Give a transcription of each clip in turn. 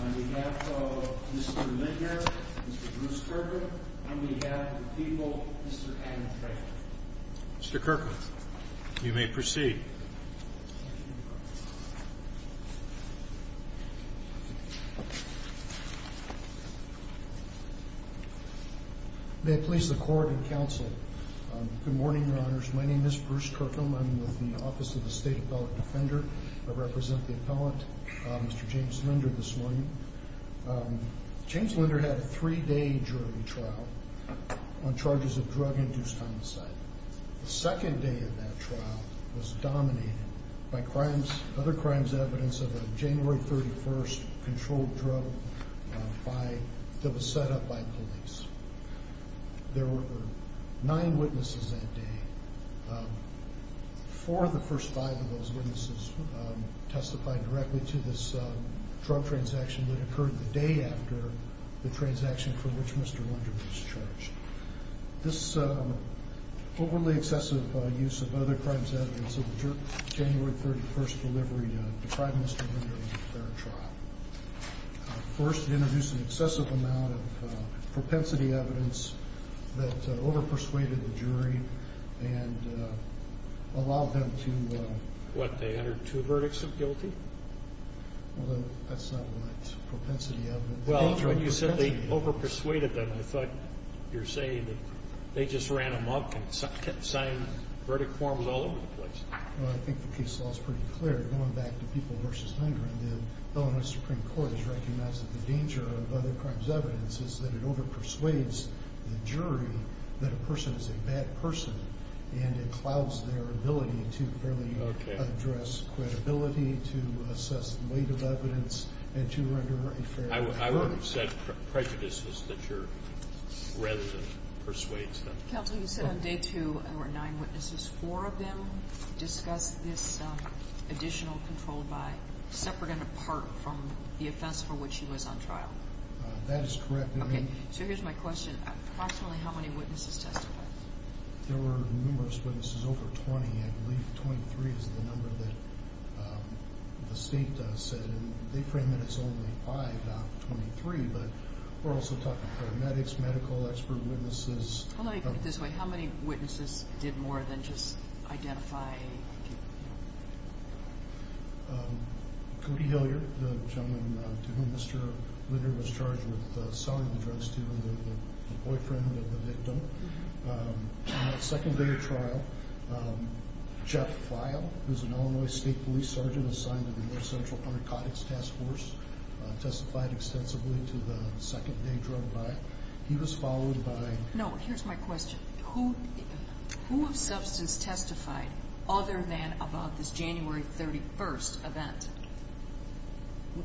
on behalf of Mr. Linder, Mr. Bruce Kirkland, on behalf of the people, Mr. Adam Franklin. Mr. Kirkland, you may proceed. May it please the court and counsel, good morning, your honors. My name is Bruce Kirkland. I'm with the Office of the State Appellate Defender. I represent the appellant, Mr. James Linder, this morning. James Linder had a three-day jury trial on charges of drug-induced homicide. The second day of that trial was dominated by other crimes, evidence of a January 31st controlled drug that was set up by police. There were nine witnesses that day. Four of the first five of those witnesses testified directly to this drug transaction that occurred the day after the transaction for which Mr. Linder was charged. This overly excessive use of other crimes evidence of the January 31st delivery deprived Mr. Linder of a fair trial. First, it introduced an excessive amount of propensity evidence that over-persuaded the jury and allowed them to... What, they entered two verdicts of guilty? Well, that's not what propensity evidence... Well, when you said they over-persuaded them, I thought you're saying that they just ran them up and kept signing verdict forms all over the place. Well, I think the case law is pretty clear. Going back to people versus Linder, the Illinois Supreme Court has recognized that the danger of other crimes evidence is that it over-persuades the jury that a person is a bad person, and it clouds their ability to fairly address credibility, to assess the weight of evidence, and to render a fair... I would have said prejudices that your... rather than persuades them. Counsel, you said on day two there were nine witnesses. Four of them discussed this additional control by, separate and apart from, the offense for which he was on trial. That is correct. Okay, so here's my question. Approximately how many witnesses testified? There were numerous witnesses, over 20. I believe 23 is the number that the state does, and they frame it as only five, not 23, but we're also talking paramedics, medical expert witnesses... Hold on, let me put it this way. How many witnesses did more than just identify... Cody Hillier, the gentleman to whom Mr. Linder was charged with selling the drugs to, the boyfriend of the victim. On the second day of trial, Jeff Feil, who's an Illinois state police sergeant assigned to the North Central Narcotics Task Force, testified extensively to the second day drug buy. He was followed by... No, here's my question. Who of substance testified other than about this January 31st event?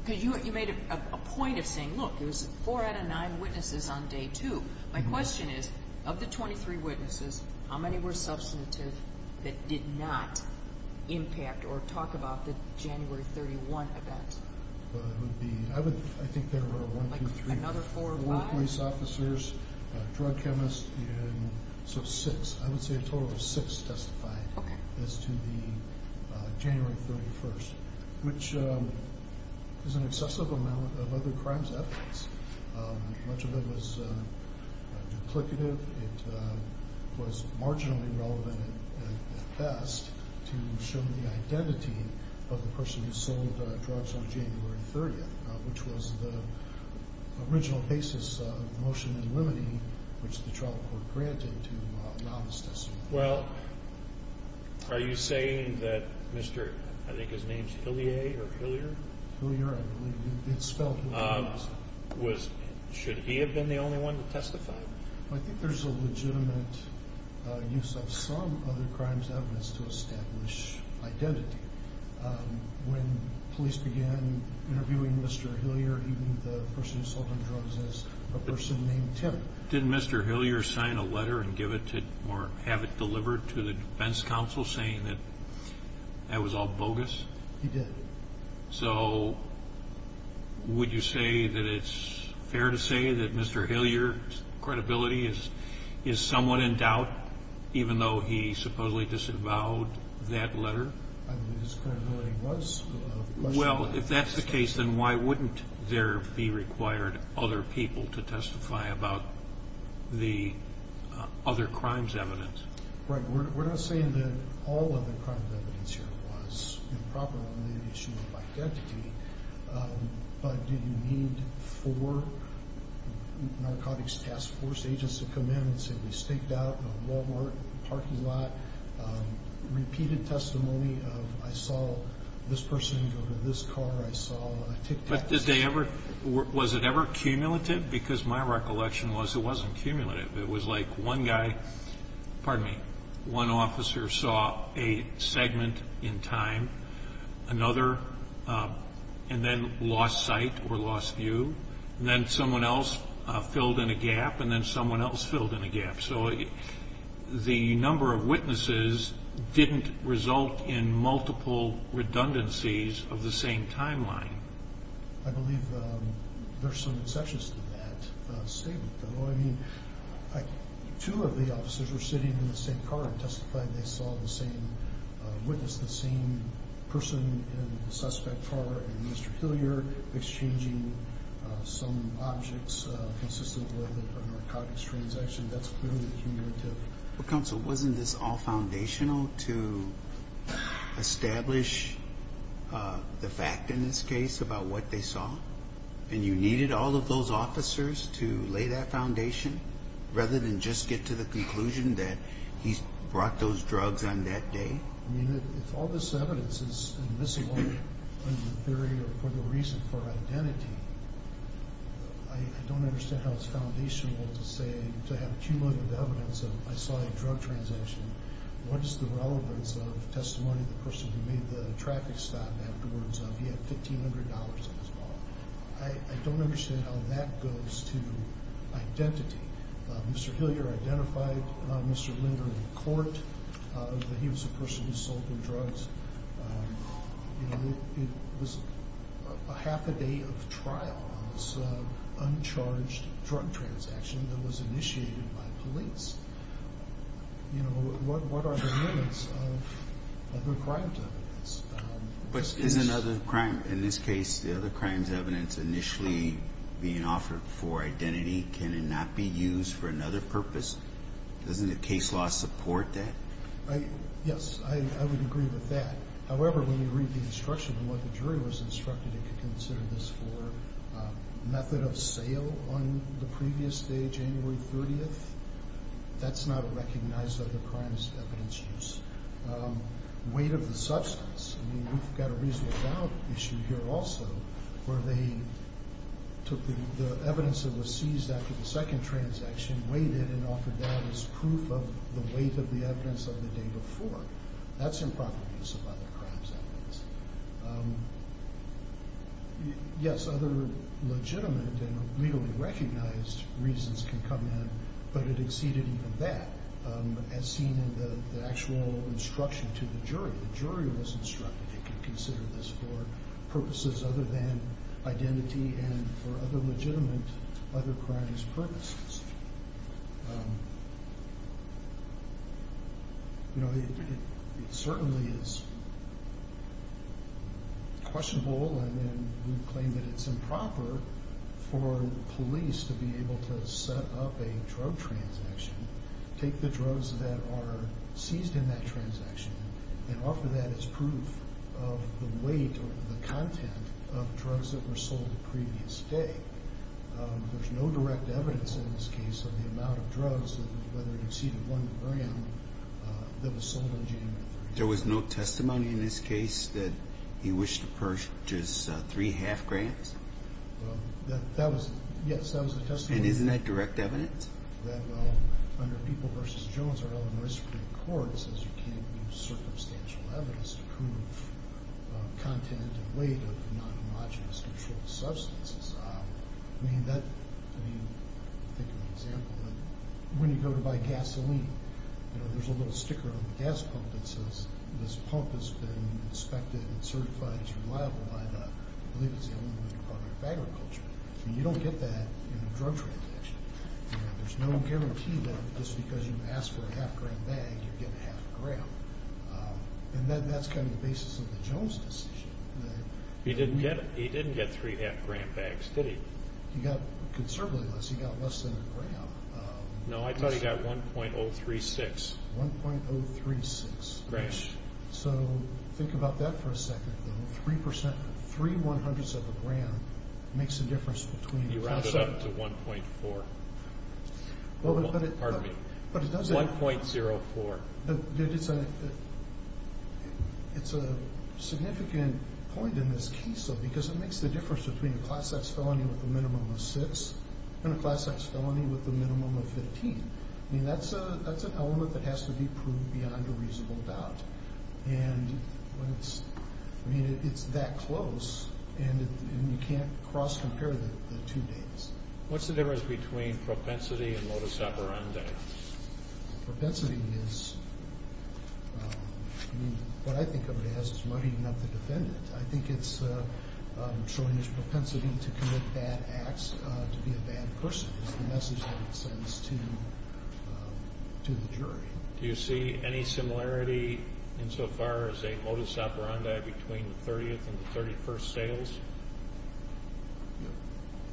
Because you made a point of saying, look, it was four out of nine witnesses on day two. My question is, of the 23 witnesses, how many were substantive that did not impact or talk about the January 31 event? I think there were one, two, three, four police officers, a drug chemist, so six. I would say a total of six testified as to the January 31st, which is an excessive amount of other crimes evidence. Much of it was duplicative. It was marginally relevant at best to show the identity of the person who sold the drugs on January 30th, which was the original basis of the motion in limine, which the trial court granted to the homicidist. Well, are you saying that Mr., I think his name's Hillier or Hillier? Hillier, I believe. It's spelled Hillier, wasn't it? Should he have been the only one to testify? I think there's a legitimate use of some other crimes evidence to establish identity. When police began interviewing Mr. Hillier, he knew the person who sold them drugs as a person named Tim. Did Mr. Hillier sign a letter and give it to, or have it delivered to the defense counsel saying that that was all bogus? He did. So would you say that it's fair to say that Mr. Hillier's credibility is somewhat in doubt, even though he supposedly disavowed that letter? I believe his credibility was. Well, if that's the case, then why wouldn't there be required other people to testify about the other crimes evidence? Right, we're not saying that all of the crime evidence here was improper on the issue of identity, but did you need four narcotics task force agents to come in and say we staked out a Walmart parking lot, repeated testimony of I saw this person go to this car, I saw a tic-tac-toe. But did they ever, was it ever cumulative? Because my recollection was it wasn't cumulative. It was like one guy, pardon me, one officer saw a segment in time, another, and then lost sight or lost view. Then someone else filled in a gap and then someone else filled in a gap. So the number of witnesses didn't result in multiple redundancies of the same timeline. I believe there's some exceptions to that statement, though. I mean, two of the officers were sitting in the same car and testified they saw the same witness, the same person in the suspect car and Mr. Hillier exchanging some objects consistent with a narcotics transaction. That's clearly cumulative. Well, Counsel, wasn't this all foundational to establish the fact in this case about what they saw? And you needed all of those officers to lay that foundation, rather than just get to the conclusion that he brought those drugs on that day? I mean, if all this evidence is admissible in the theory for the reason for identity, I don't understand how it's foundational to say, to have cumulative evidence of I saw a drug transaction. What is the relevance of testimony of the person who made the traffic stop afterwards? He had $1,500 in his wallet. I don't understand how that goes to identity. Mr. Hillier identified Mr. Linder in court, that he was a person who sold them drugs. It was a half a day of trial on this uncharged drug transaction that was initiated by police. What are the limits of other crimes evidence? But is another crime, in this case, the other crimes evidence initially being offered for identity, can it not be used for another purpose? Doesn't the case law support that? Yes, I would agree with that. However, when you read the instruction and what the jury was instructed, it could consider this for method of sale on the previous day, January 30th. That's not a recognized other crimes evidence use. Weight of the substance, I mean, we've got a reasonable doubt issue here also, where they took the evidence that was seized after the second transaction, weighed it, and offered that as proof of the weight of the evidence of the day before. That's improper use of other crimes evidence. Yes, other legitimate and legally recognized reasons can come in, but it exceeded even that, as seen in the actual instruction to the jury. The jury was instructed it could consider this for purposes other than identity and for other legitimate other crimes purposes. It certainly is questionable and we claim that it's improper for police to be able to set up a drug transaction, take the drugs that are seized in that transaction, and offer that as proof of the weight or the content of drugs that were sold the previous day. There's no direct evidence in this case of the amount of drugs, whether it exceeded one gram, that was sold on January 30th. There was no testimony in this case that he wished to purchase three half grams? That was, yes, that was the testimony. And isn't that direct evidence? That, well, under People v. Jones, our Illinois Supreme Court says you can't use circumstantial evidence to prove content and weight of non-homogenous controlled substances. I mean, that, I mean, I think of an example of when you go to buy gasoline, there's a little sticker on the gas pump that says this pump has been inspected and certified as reliable by the, I believe it's the Illinois Department of Agriculture. You don't get that in a drug transaction. There's no guarantee that just because you ask for a half gram bag, you get a half gram. And then that's kind of the basis of the Jones decision. He didn't get, he didn't get three half gram bags, did he? He got conservatively less, he got less than a gram. No, I thought he got 1.036. 1.036. Grams. So, think about that for a second, though. Three percent, three one-hundredths of a gram makes a difference between. You round it up to 1.4, pardon me, 1.04. It's a significant point in this case, though, because it makes the difference between a class X felony with a minimum of six and a class X felony with a minimum of 15. I mean, that's an element that has to be proved beyond a reasonable doubt. And when it's, I mean, it's that close, and you can't cross-compare the two dates. What's the difference between propensity and lotus aberrandi? Propensity is, I mean, what I think of it as is muddying up the defendant. I think it's showing his propensity to commit bad acts, to be a bad person, is the message that it sends to the jury. Do you see any similarity insofar as a lotus aberrandi between the 30th and the 31st sales?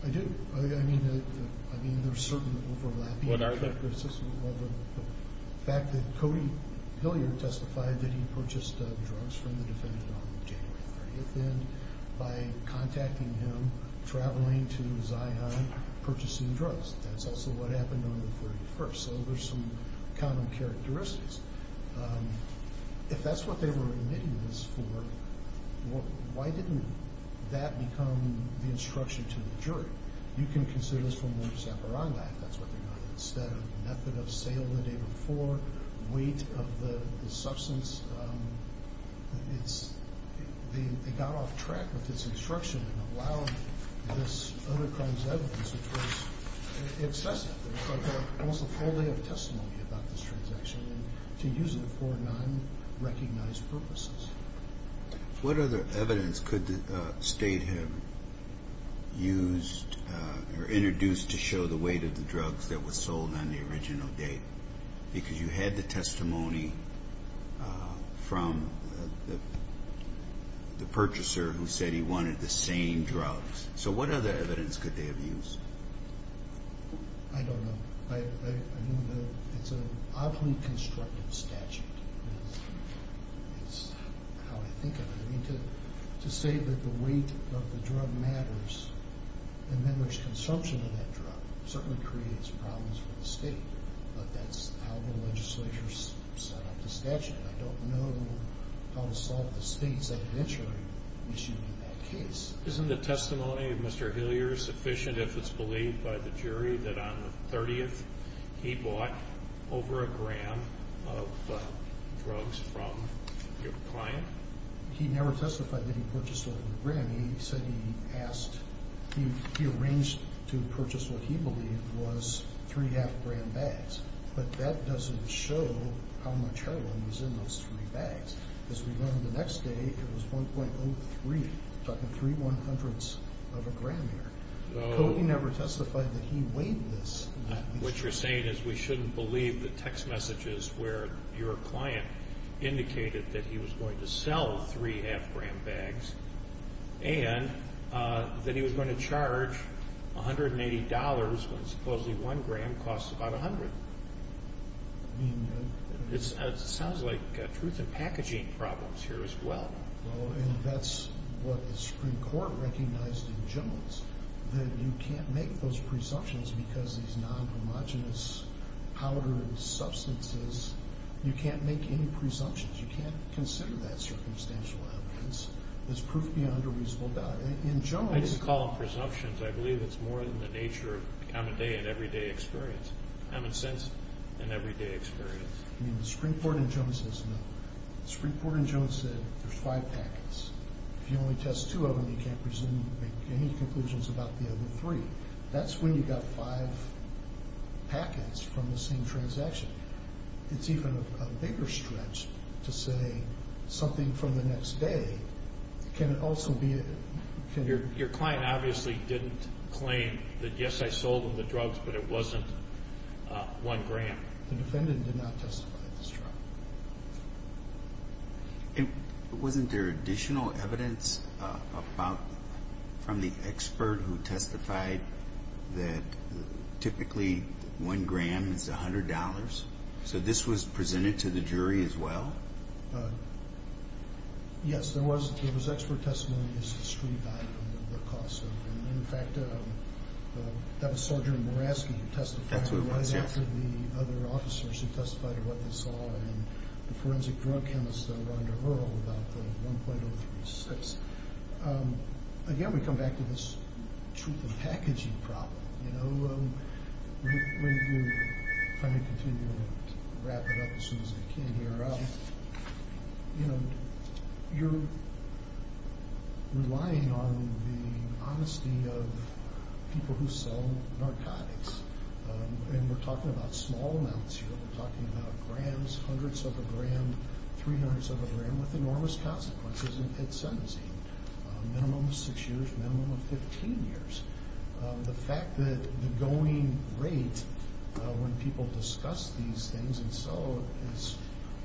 I do. I mean, there's certain overlapping. Well, the fact that Cody Hilliard testified that he purchased drugs from the defendant on January 30th, and by contacting him, traveling to Zion, purchasing drugs. That's also what happened on the 31st, so there's some common characteristics. If that's what they were admitting this for, why didn't that become the instruction to the jury? You can consider this for more zaparaniac, that's what they're calling it. Instead of method of sale the day before, weight of the substance. It's, they got off track with this instruction and allowed this other crime's evidence, which was excessive. There was almost a whole day of testimony about this transaction and to use it for non-recognized purposes. What other evidence could the state have used or introduced to show the weight of the drugs that were sold on the original date? Because you had the testimony from the purchaser who said he wanted the same drugs. So what other evidence could they have used? I don't know. I know that it's an oddly constructive statute. It's how I think of it. I mean, to say that the weight of the drug matters and then there's consumption of that drug certainly creates problems for the state. But that's how the legislature set up the statute. I don't know how to solve the state's adventure in issuing that case. Isn't the testimony of Mr. Hillier sufficient if it's believed by the jury that on the 30th he bought over a gram of drugs from your client? He never testified that he purchased over a gram. He said he asked, he arranged to purchase what he believed was three half gram bags. But that doesn't show how much heroin was in those three bags. As we learned the next day, it was 1.03, talking three one hundredths of a gram here. So he never testified that he weighed this. What you're saying is we shouldn't believe the text messages where your client indicated that he was going to sell three half gram bags and that he was going to charge $180 when supposedly one gram costs about a hundred. It sounds like truth in packaging problems here as well. And that's what the Supreme Court recognized in Jones, that you can't make those presumptions because these non-homogenous powdered substances, you can't make any presumptions. You can't consider that circumstantial evidence as proof beyond a reasonable doubt. In Jones- I didn't call them presumptions. I believe it's more than the nature of common day and everyday experience. Common sense and everyday experience. I mean, the Supreme Court in Jones says no. Supreme Court in Jones said there's five packets. If you only test two of them, you can't presume to make any conclusions about the other three. That's when you got five packets from the same transaction. It's even a bigger stretch to say something from the next day, can it also be- Your client obviously didn't claim that, yes, I sold him the drugs, but it wasn't one gram. The defendant did not testify at this trial. Wasn't there additional evidence from the expert who testified that typically one gram is $100? So this was presented to the jury as well? Yes, there was expert testimony as to street value and the cost of it. And in fact, that was Sergeant Morasky who testified- That's what it was, yeah. And half of the other officers who testified are what they saw and the forensic drug chemists that are under HURL about the 1.036. Again, we come back to this truth in packaging problem. You know, when you- If I may continue to wrap it up as soon as I can here. You know, you're relying on the honesty of people who sell narcotics. And we're talking about small amounts here. We're talking about grams, hundreds of a gram, three-hundredths of a gram with enormous consequences in sentencing. Minimum of six years, minimum of 15 years. The fact that the going rate when people discuss these things and so is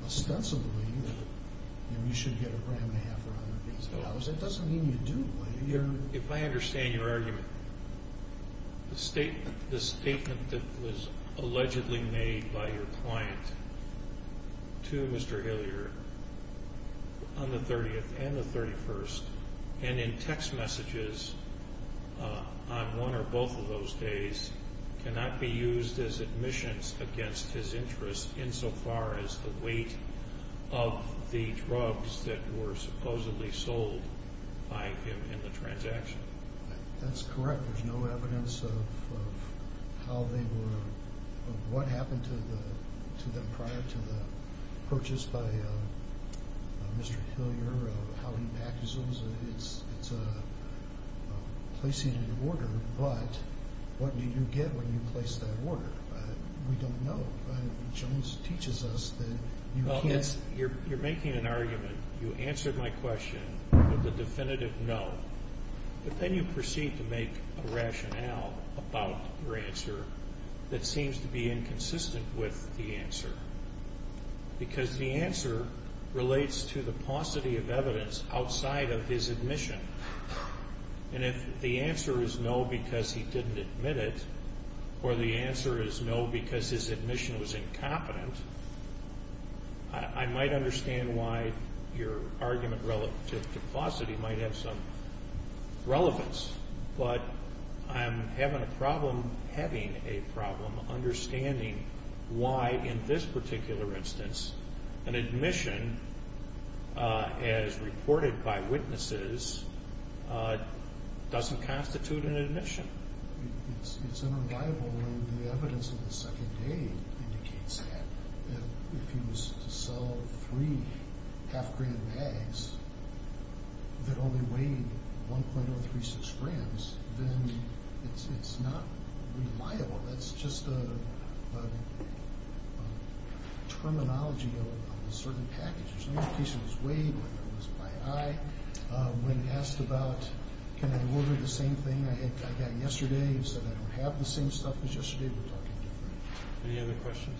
ostensibly that you should get a gram and a half for $100. It doesn't mean you do. If I understand your argument, the statement that was allegedly made by your client to Mr. Hillier on the 30th and the 31st and in text messages on one or both of those days cannot be used as admissions against his interests insofar as the weight of the drugs that were supposedly sold by him in the transaction. That's correct. There's no evidence of how they were- of what happened to them prior to the purchase by Mr. Hillier, of how he practices them. It's a placated order, but what do you get when you place that order? We don't know. Jones teaches us that you can't- You're making an argument. You answered my question with a definitive no, but then you proceed to make a rationale about your answer that seems to be inconsistent with the answer because the answer relates to the paucity of evidence outside of his admission. And if the answer is no because he didn't admit it or the answer is no because his admission was incompetent, I might understand why your argument relative to paucity might have some relevance, but I'm having a problem having a problem understanding why in this particular instance an admission as reported by witnesses doesn't constitute an admission. It's unreliable. The evidence of the second day indicates that. If he was to sell three half-gram bags that only weighed 1.036 grams, then it's not reliable. That's just the terminology of a certain package. In this case, it was weighed, it was by eye. When asked about can I order the same thing I got yesterday, he said I don't have the same stuff as yesterday. We're talking different. Any other questions?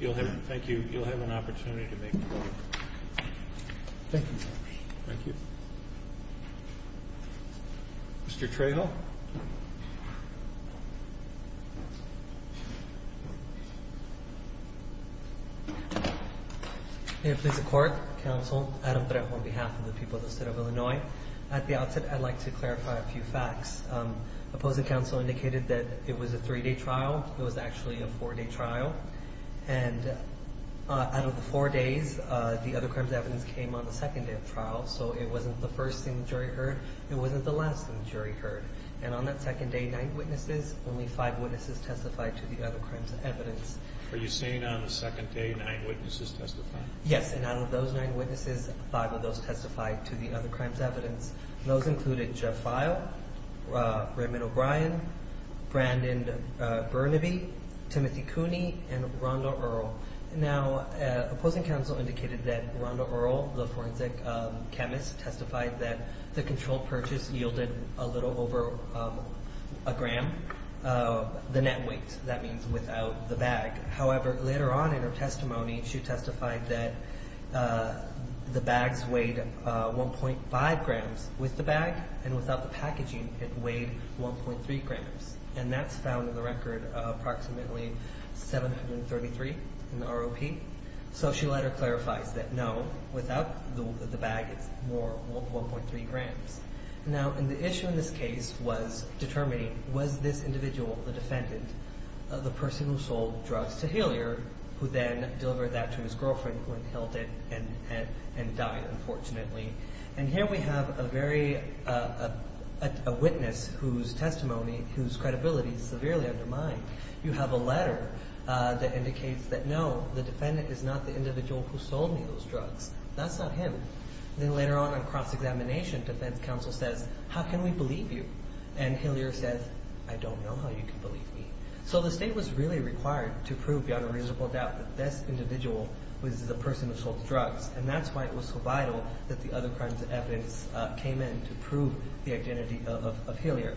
No. Thank you. You'll have an opportunity to make a point. Thank you, Judge. Thank you. Mr. Trejo. May it please the Court, Counsel, Adam Trejo on behalf of the people of the State of Illinois. At the outset, I'd like to clarify a few facts. Opposing counsel indicated that it was a three-day trial. It was actually a four-day trial, and out of the four days, the other crimes evidence came on the second day of trial, so it wasn't the first thing the jury heard. It wasn't the last thing the jury heard. And on that second day, nine witnesses, only five witnesses testified to the other crimes evidence. Are you saying on the second day, nine witnesses testified? Yes, and out of those nine witnesses, five of those testified to the other crimes evidence. Those included Jeff Feil, Raymond O'Brien, Brandon Burnaby, Timothy Cooney, and Rhonda Earl. Now, opposing counsel indicated that Rhonda Earl, the forensic chemist, testified that the controlled purchase yielded a little over a gram, the net weight. That means without the bag. However, later on in her testimony, she testified that the bags weighed 1.5 grams with the bag, and without the packaging, it weighed 1.3 grams. And that's found in the record approximately 733 in the ROP. So she later clarifies that, no, without the bag, it's more, 1.3 grams. Now, and the issue in this case was determining, was this individual, the defendant, the person who sold drugs to Healyer, who then delivered that to his girlfriend, who then held it and died, unfortunately. And here we have a witness whose testimony, whose credibility is severely undermined. You have a letter that indicates that, no, the defendant is not the individual who sold me those drugs. That's not him. Then later on in cross-examination, defense counsel says, how can we believe you? And Healyer says, I don't know how you can believe me. So the state was really required to prove beyond a reasonable doubt that this individual was the person who sold the drugs, and that's why it was so vital that the other crimes evidence came in to prove the identity of Healyer.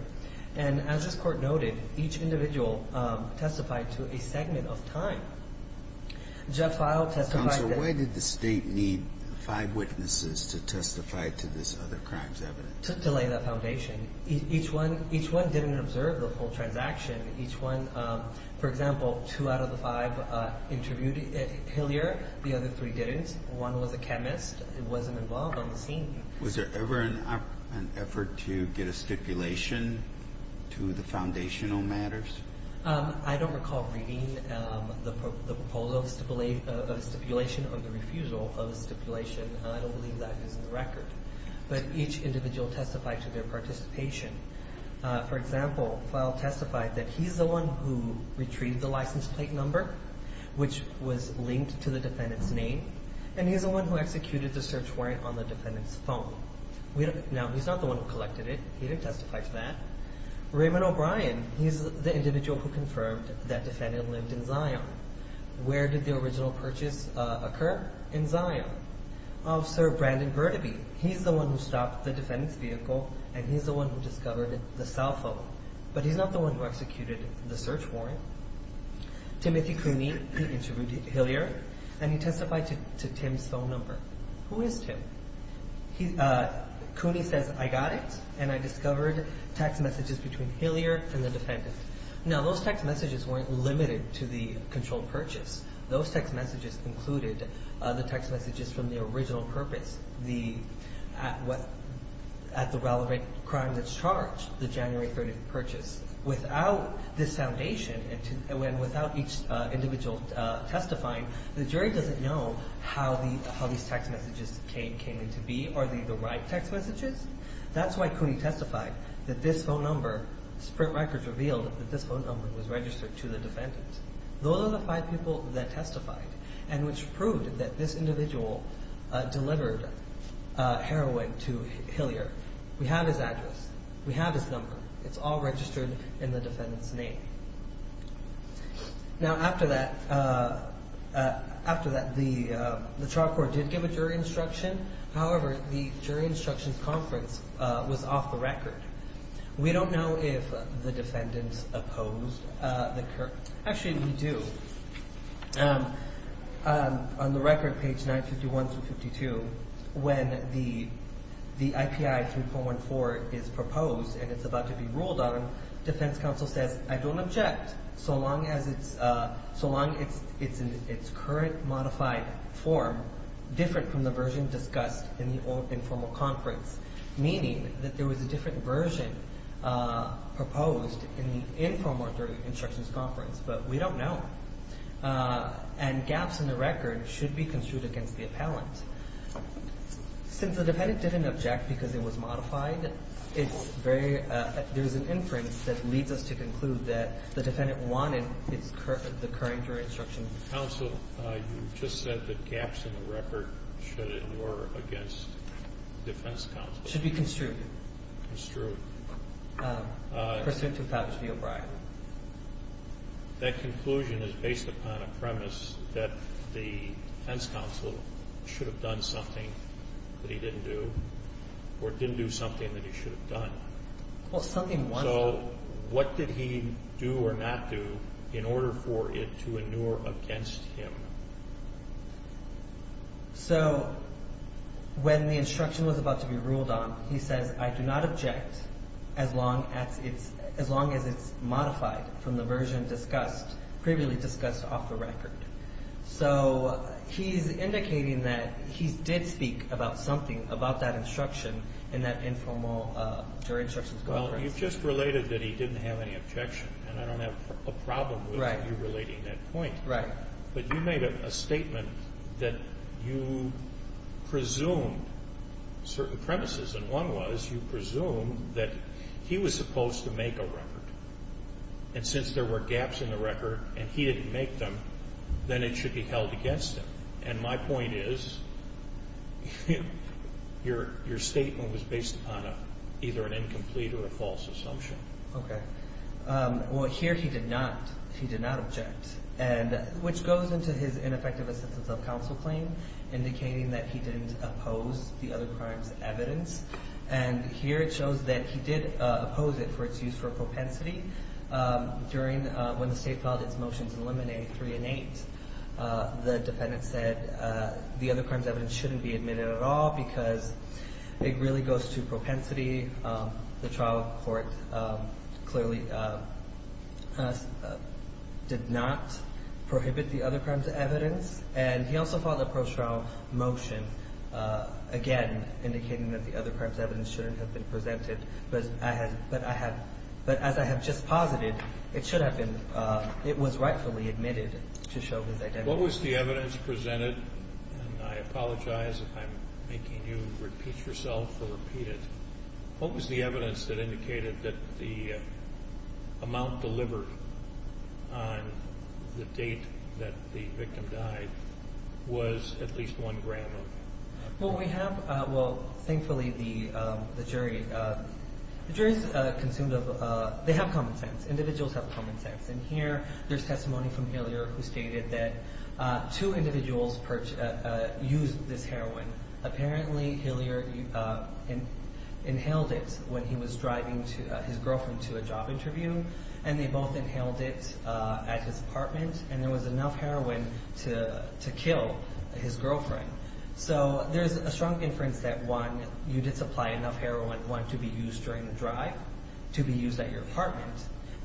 And as this court noted, each individual testified to a segment of time. Jeff Fowle testified... Counsel, why did the state need five witnesses to testify to this other crimes evidence? To lay that foundation. Each one didn't observe the whole transaction. Each one, for example, two out of the five interviewed Healyer, the other three didn't. One was a chemist, wasn't involved on the scene. Was there ever an effort to get a stipulation to the foundational matters? I don't recall reading the proposal of stipulation or the refusal of stipulation. I don't believe that is in the record. But each individual testified to their participation. For example, Fowle testified that he's the one who retrieved the license plate number, which was linked to the defendant's name, and he's the one who executed the search warrant on the defendant's phone. Now, he's not the one who collected it. He didn't testify to that. Raymond O'Brien, he's the individual who confirmed that defendant lived in Zion. Where did the original purchase occur? In Zion. Officer Brandon Burdaby, he's the one who stopped the defendant's vehicle, and he's the one who discovered the cell phone. But he's not the one who executed the search warrant. Timothy Cooney, he interviewed Healyer, and he testified to Tim's phone number. Who is Tim? Cooney says, I got it, and I discovered text messages between Healyer and the defendant. Now, those text messages weren't limited to the controlled purchase. Those text messages included the text messages from the original purpose, at the relevant crime that's charged, the January 30th purchase. Without this foundation, and without each individual testifying, the jury doesn't know how these text messages came in to be. Are they the right text messages? That's why Cooney testified that this phone number, print records revealed that this phone number was registered to the defendant. Those are the five people that testified, and which proved that this individual delivered heroin to Healyer. We have his address. We have his number. It's all registered in the defendant's name. Now, after that, after that, the trial court did give a jury instruction. However, the jury instruction conference was off the record. We don't know if the defendant opposed the current... Actually, we do. On the record, page 951 through 52, when the IPI 3.14 is proposed, and it's about to be ruled on, defense counsel says, I don't object, so long as it's in its current modified form, different from the version discussed in the old informal conference, meaning that there was a different version proposed in the informal jury instructions conference, but we don't know. And gaps in the record should be construed against the appellant. Since the defendant didn't object because it was modified, there's an inference that leads us to conclude that the defendant wanted the current jury instruction. Counsel, you just said that gaps in the record should ignore against defense counsel. Should be construed. Construed. Pursuant to Pappas v. O'Brien. That conclusion is based upon a premise that the defense counsel should have done something that he didn't do, or didn't do something that he should have done. Well, something one... So, what did he do or not do in order for it to ignore against him? So, when the instruction was about to be ruled on, he says, I do not object as long as it's modified from the version discussed, previously discussed off the record. So, he's indicating that he did speak about something about that instruction in that informal jury instructions conference. Well, you just related that he didn't have any objection, and I don't have a problem with you relating that point. But you made a statement that you presumed certain premises, and one was you presumed that he was supposed to make a record. And since there were gaps in the record and he didn't make them, then it should be held against him. And my point is your statement was based upon either an incomplete or a false assumption. Well, here he did not object, which goes into his ineffective assistance of counsel claim, indicating that he didn't oppose the other crimes evidence. And here it shows that he did oppose it for its use for propensity during when the state politics motions eliminated 3 and 8. The defendant said the other crimes evidence shouldn't be admitted at all because it really goes to propensity. The trial court clearly did not prohibit the other crimes evidence. And he also filed a pro-trial motion again indicating that the other crimes evidence shouldn't have been presented, but as I have just posited, it should have been, it was rightfully admitted to show his identity. What was the evidence presented? And I apologize if I'm making you repeat yourself or repeat it. What was the evidence that indicated that the amount delivered on the date that the victim died was at least 1 gram of heroin? Well, we have, well thankfully the jury the jury's consumed of they have common sense. Individuals have common sense. And here there's testimony from Hillier who stated that two individuals used this heroin. Apparently, Hillier inhaled it when he was driving his girlfriend to a job interview, and they both inhaled it at his apartment and there was enough heroin to kill his girlfriend. So, there's a strong inference that one, you did supply enough heroin, one, to be used during the drive to be used at your apartment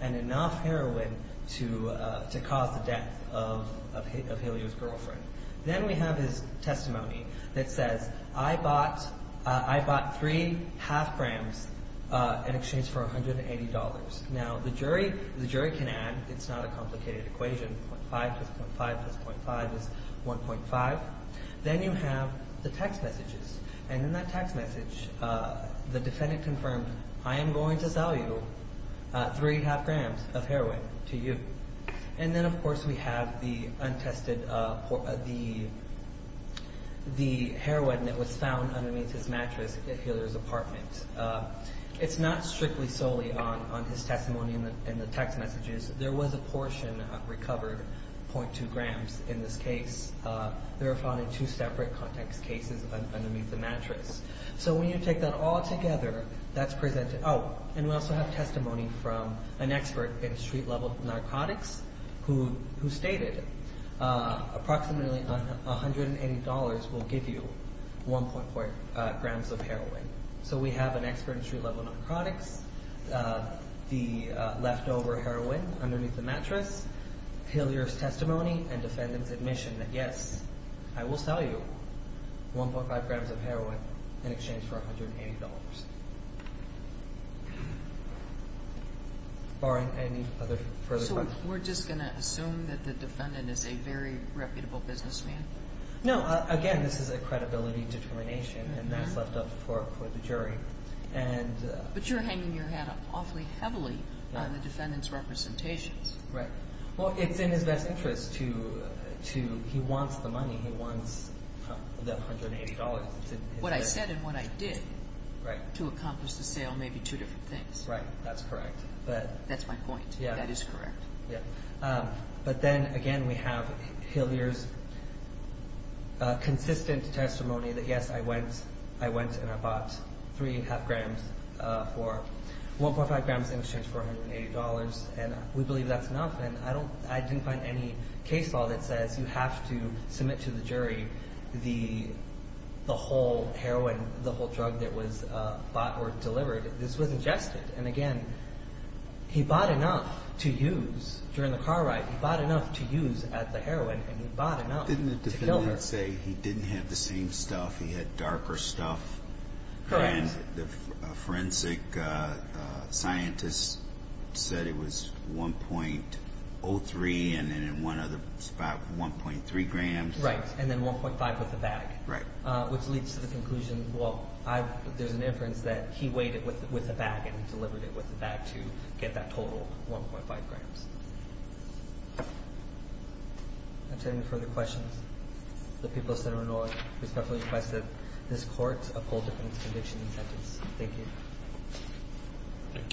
and enough heroin to cause the death of Then we have his testimony that says, I bought three half grams in exchange for $180. Now, the jury can add, it's not a complicated equation, .5 plus .5 plus .5 is 1.5 Then you have the text messages and in that text message the defendant confirmed I am going to sell you three half grams of heroin to you. And then of course we have the untested the heroin that was found underneath his mattress at Hillier's apartment. It's not strictly solely on his testimony and the text messages. There was a portion recovered, .2 grams in this case. They were found in two separate context cases underneath the mattress. So when you take that all together, that's presented Oh, and we also have testimony from an expert in street level narcotics who stated approximately $180 will give you 1.4 grams of heroin So we have an expert in street level narcotics the leftover heroin underneath the mattress Hillier's testimony and defendant's admission that yes, I will sell you 1.5 grams of heroin in exchange for $180 $180 Barring any other further questions So we're just going to assume that the defendant is a very reputable businessman? No, again this is a credibility determination and that's left up for the jury But you're hanging your hat awfully heavily on the defendant's representations Right, well it's in his best interest to he wants the money, he wants the $180 What I said and what I did to accomplish the sale may be two different things That's my point, that is correct But then again we have Hillier's consistent testimony that yes, I went and I bought 3.5 grams for 1.5 grams in exchange for $180 and I didn't find any case law that says you have to submit to the jury the whole heroin, the whole drug that was bought or delivered this was ingested and again he bought enough to use during the car ride, he bought enough to use at the heroin and he bought enough Didn't the defendant say he didn't have the same stuff, he had darker stuff Correct The forensic scientist said it was 1.03 and in one other spot 1.3 grams and then 1.5 with a bag which leads to the conclusion there's an inference that he weighed it with a bag and delivered it with a bag to get that total 1.5 grams Are there any further questions? The people of Center Illinois respectfully request that this court uphold the defendant's conviction and sentence Thank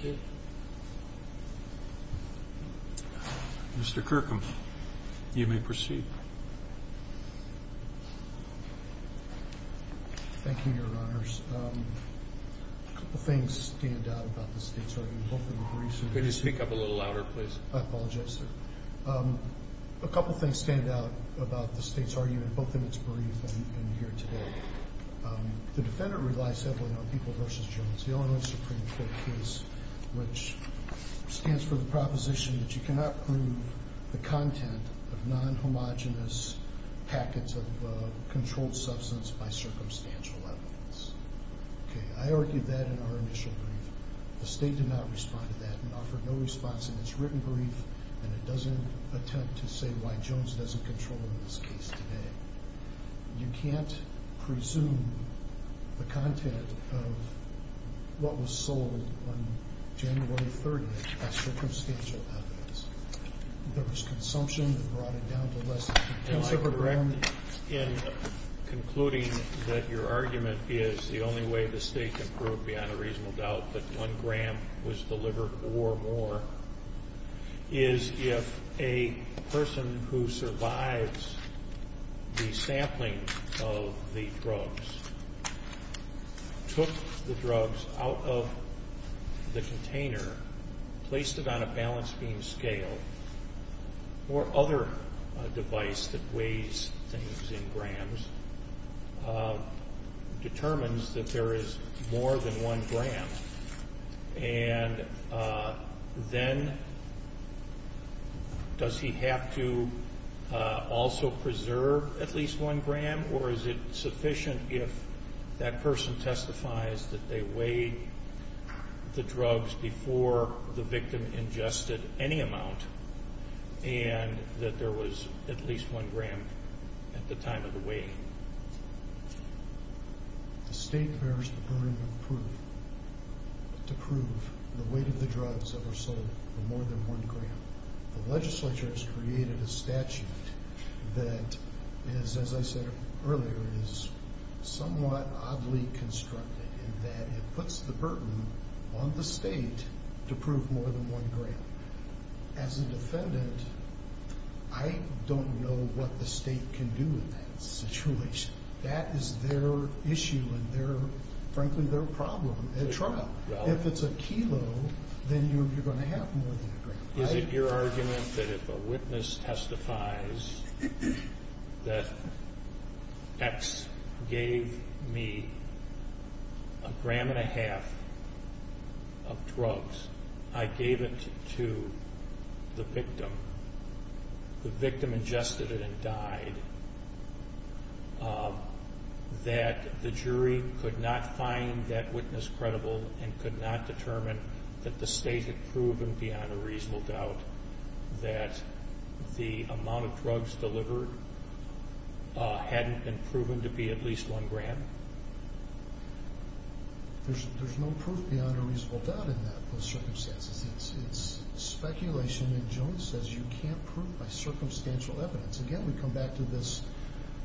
you Thank you Mr. Kirkham You may proceed Thank you your honors A couple things stand out about the state's argument Could you speak up a little louder please? I apologize sir A couple things stand out about the state's argument both in it's brief and here today The defendant relies heavily on people vs. Jones The Illinois Supreme Court case which stands for the proposition that you cannot prove the content of non-homogenous packets of controlled substance by circumstantial evidence I argued that in our initial brief The state did not respond to that and offered no response in it's written brief and it doesn't attempt to say why Jones doesn't control in this case today You can't presume the content of what was sold on January 30th by circumstantial evidence There was consumption that brought it down to less than 2 grams Am I correct in concluding that your argument is the only way the state can prove beyond a reasonable doubt that 1 gram was delivered or more is if a person who survives the sampling of the drugs took the drugs out of the container placed it on a balance beam scale or other device that weighs things in grams determines that there is more than 1 gram and then does he have to also preserve at least 1 gram or is it sufficient if that person testifies that they weighed the drugs before the victim ingested any amount and that there was at least 1 gram at the time of the weighting The state bears the burden of proof to prove the weight of the drugs that were sold for more than 1 gram. The legislature has created a statute that as I said earlier is somewhat oddly constructed in that it puts the burden on the state to prove more than 1 gram. As a defendant I don't know what the state can do in that situation That is their issue and frankly their problem at trial. If it's a kilo then you're going to have more than 1 gram Is it your argument that if a witness testifies that X gave me a gram and a half of drugs I gave it to the victim the victim ingested it and died that the jury could not find that witness credible and could not determine that the state had proven beyond a reasonable doubt that the amount of drugs delivered hadn't been proven to be at least 1 gram There's no proof beyond a reasonable doubt in that circumstance. It's speculation and Jones says you can't prove by circumstantial evidence Again we come back to this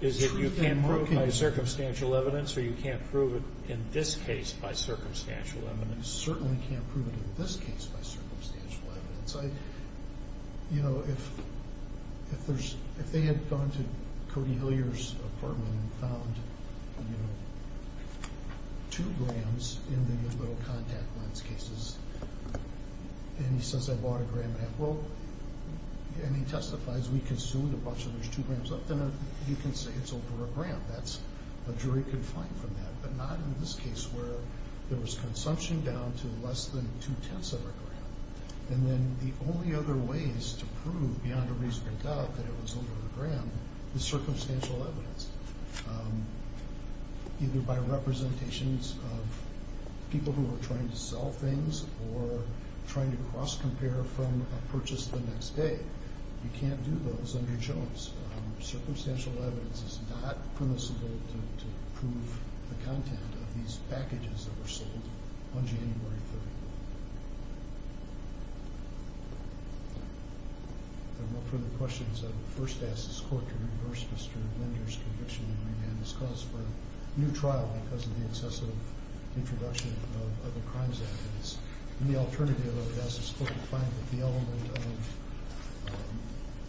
Is it you can't prove by circumstantial evidence or you can't prove it in this case by circumstantial evidence You certainly can't prove it in this case by circumstantial evidence You know if they had gone to Cody Hillier's apartment and found 2 grams in the little contact lens cases and he says I bought a gram and a half and he testifies we consumed a bunch of those 2 grams you can say it's over a gram a jury can find from that but not in this case where there was consumption down to less than 2 tenths of a gram and then the only other ways to prove beyond a reasonable doubt that it was over a gram is circumstantial evidence either by representations of people who were trying to sell things or trying to cross compare from a purchase the next day You can't do those under Jones Circumstantial evidence is not permissible to prove the content of these cases until January 30th There are no further questions I would first ask this court to reverse Mr. Linder's conviction and remand this cause for a new trial because of the excessive introduction of other crimes and the alternative I would ask this court to find that the element of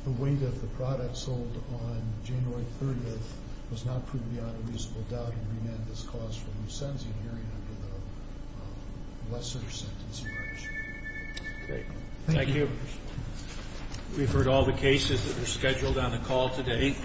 the weight of the product sold on January 30th was not proved beyond a reasonable doubt and remand this cause for a new sentencing hearing under the lesser sentence in March Thank you We've heard all the cases that were scheduled on the call today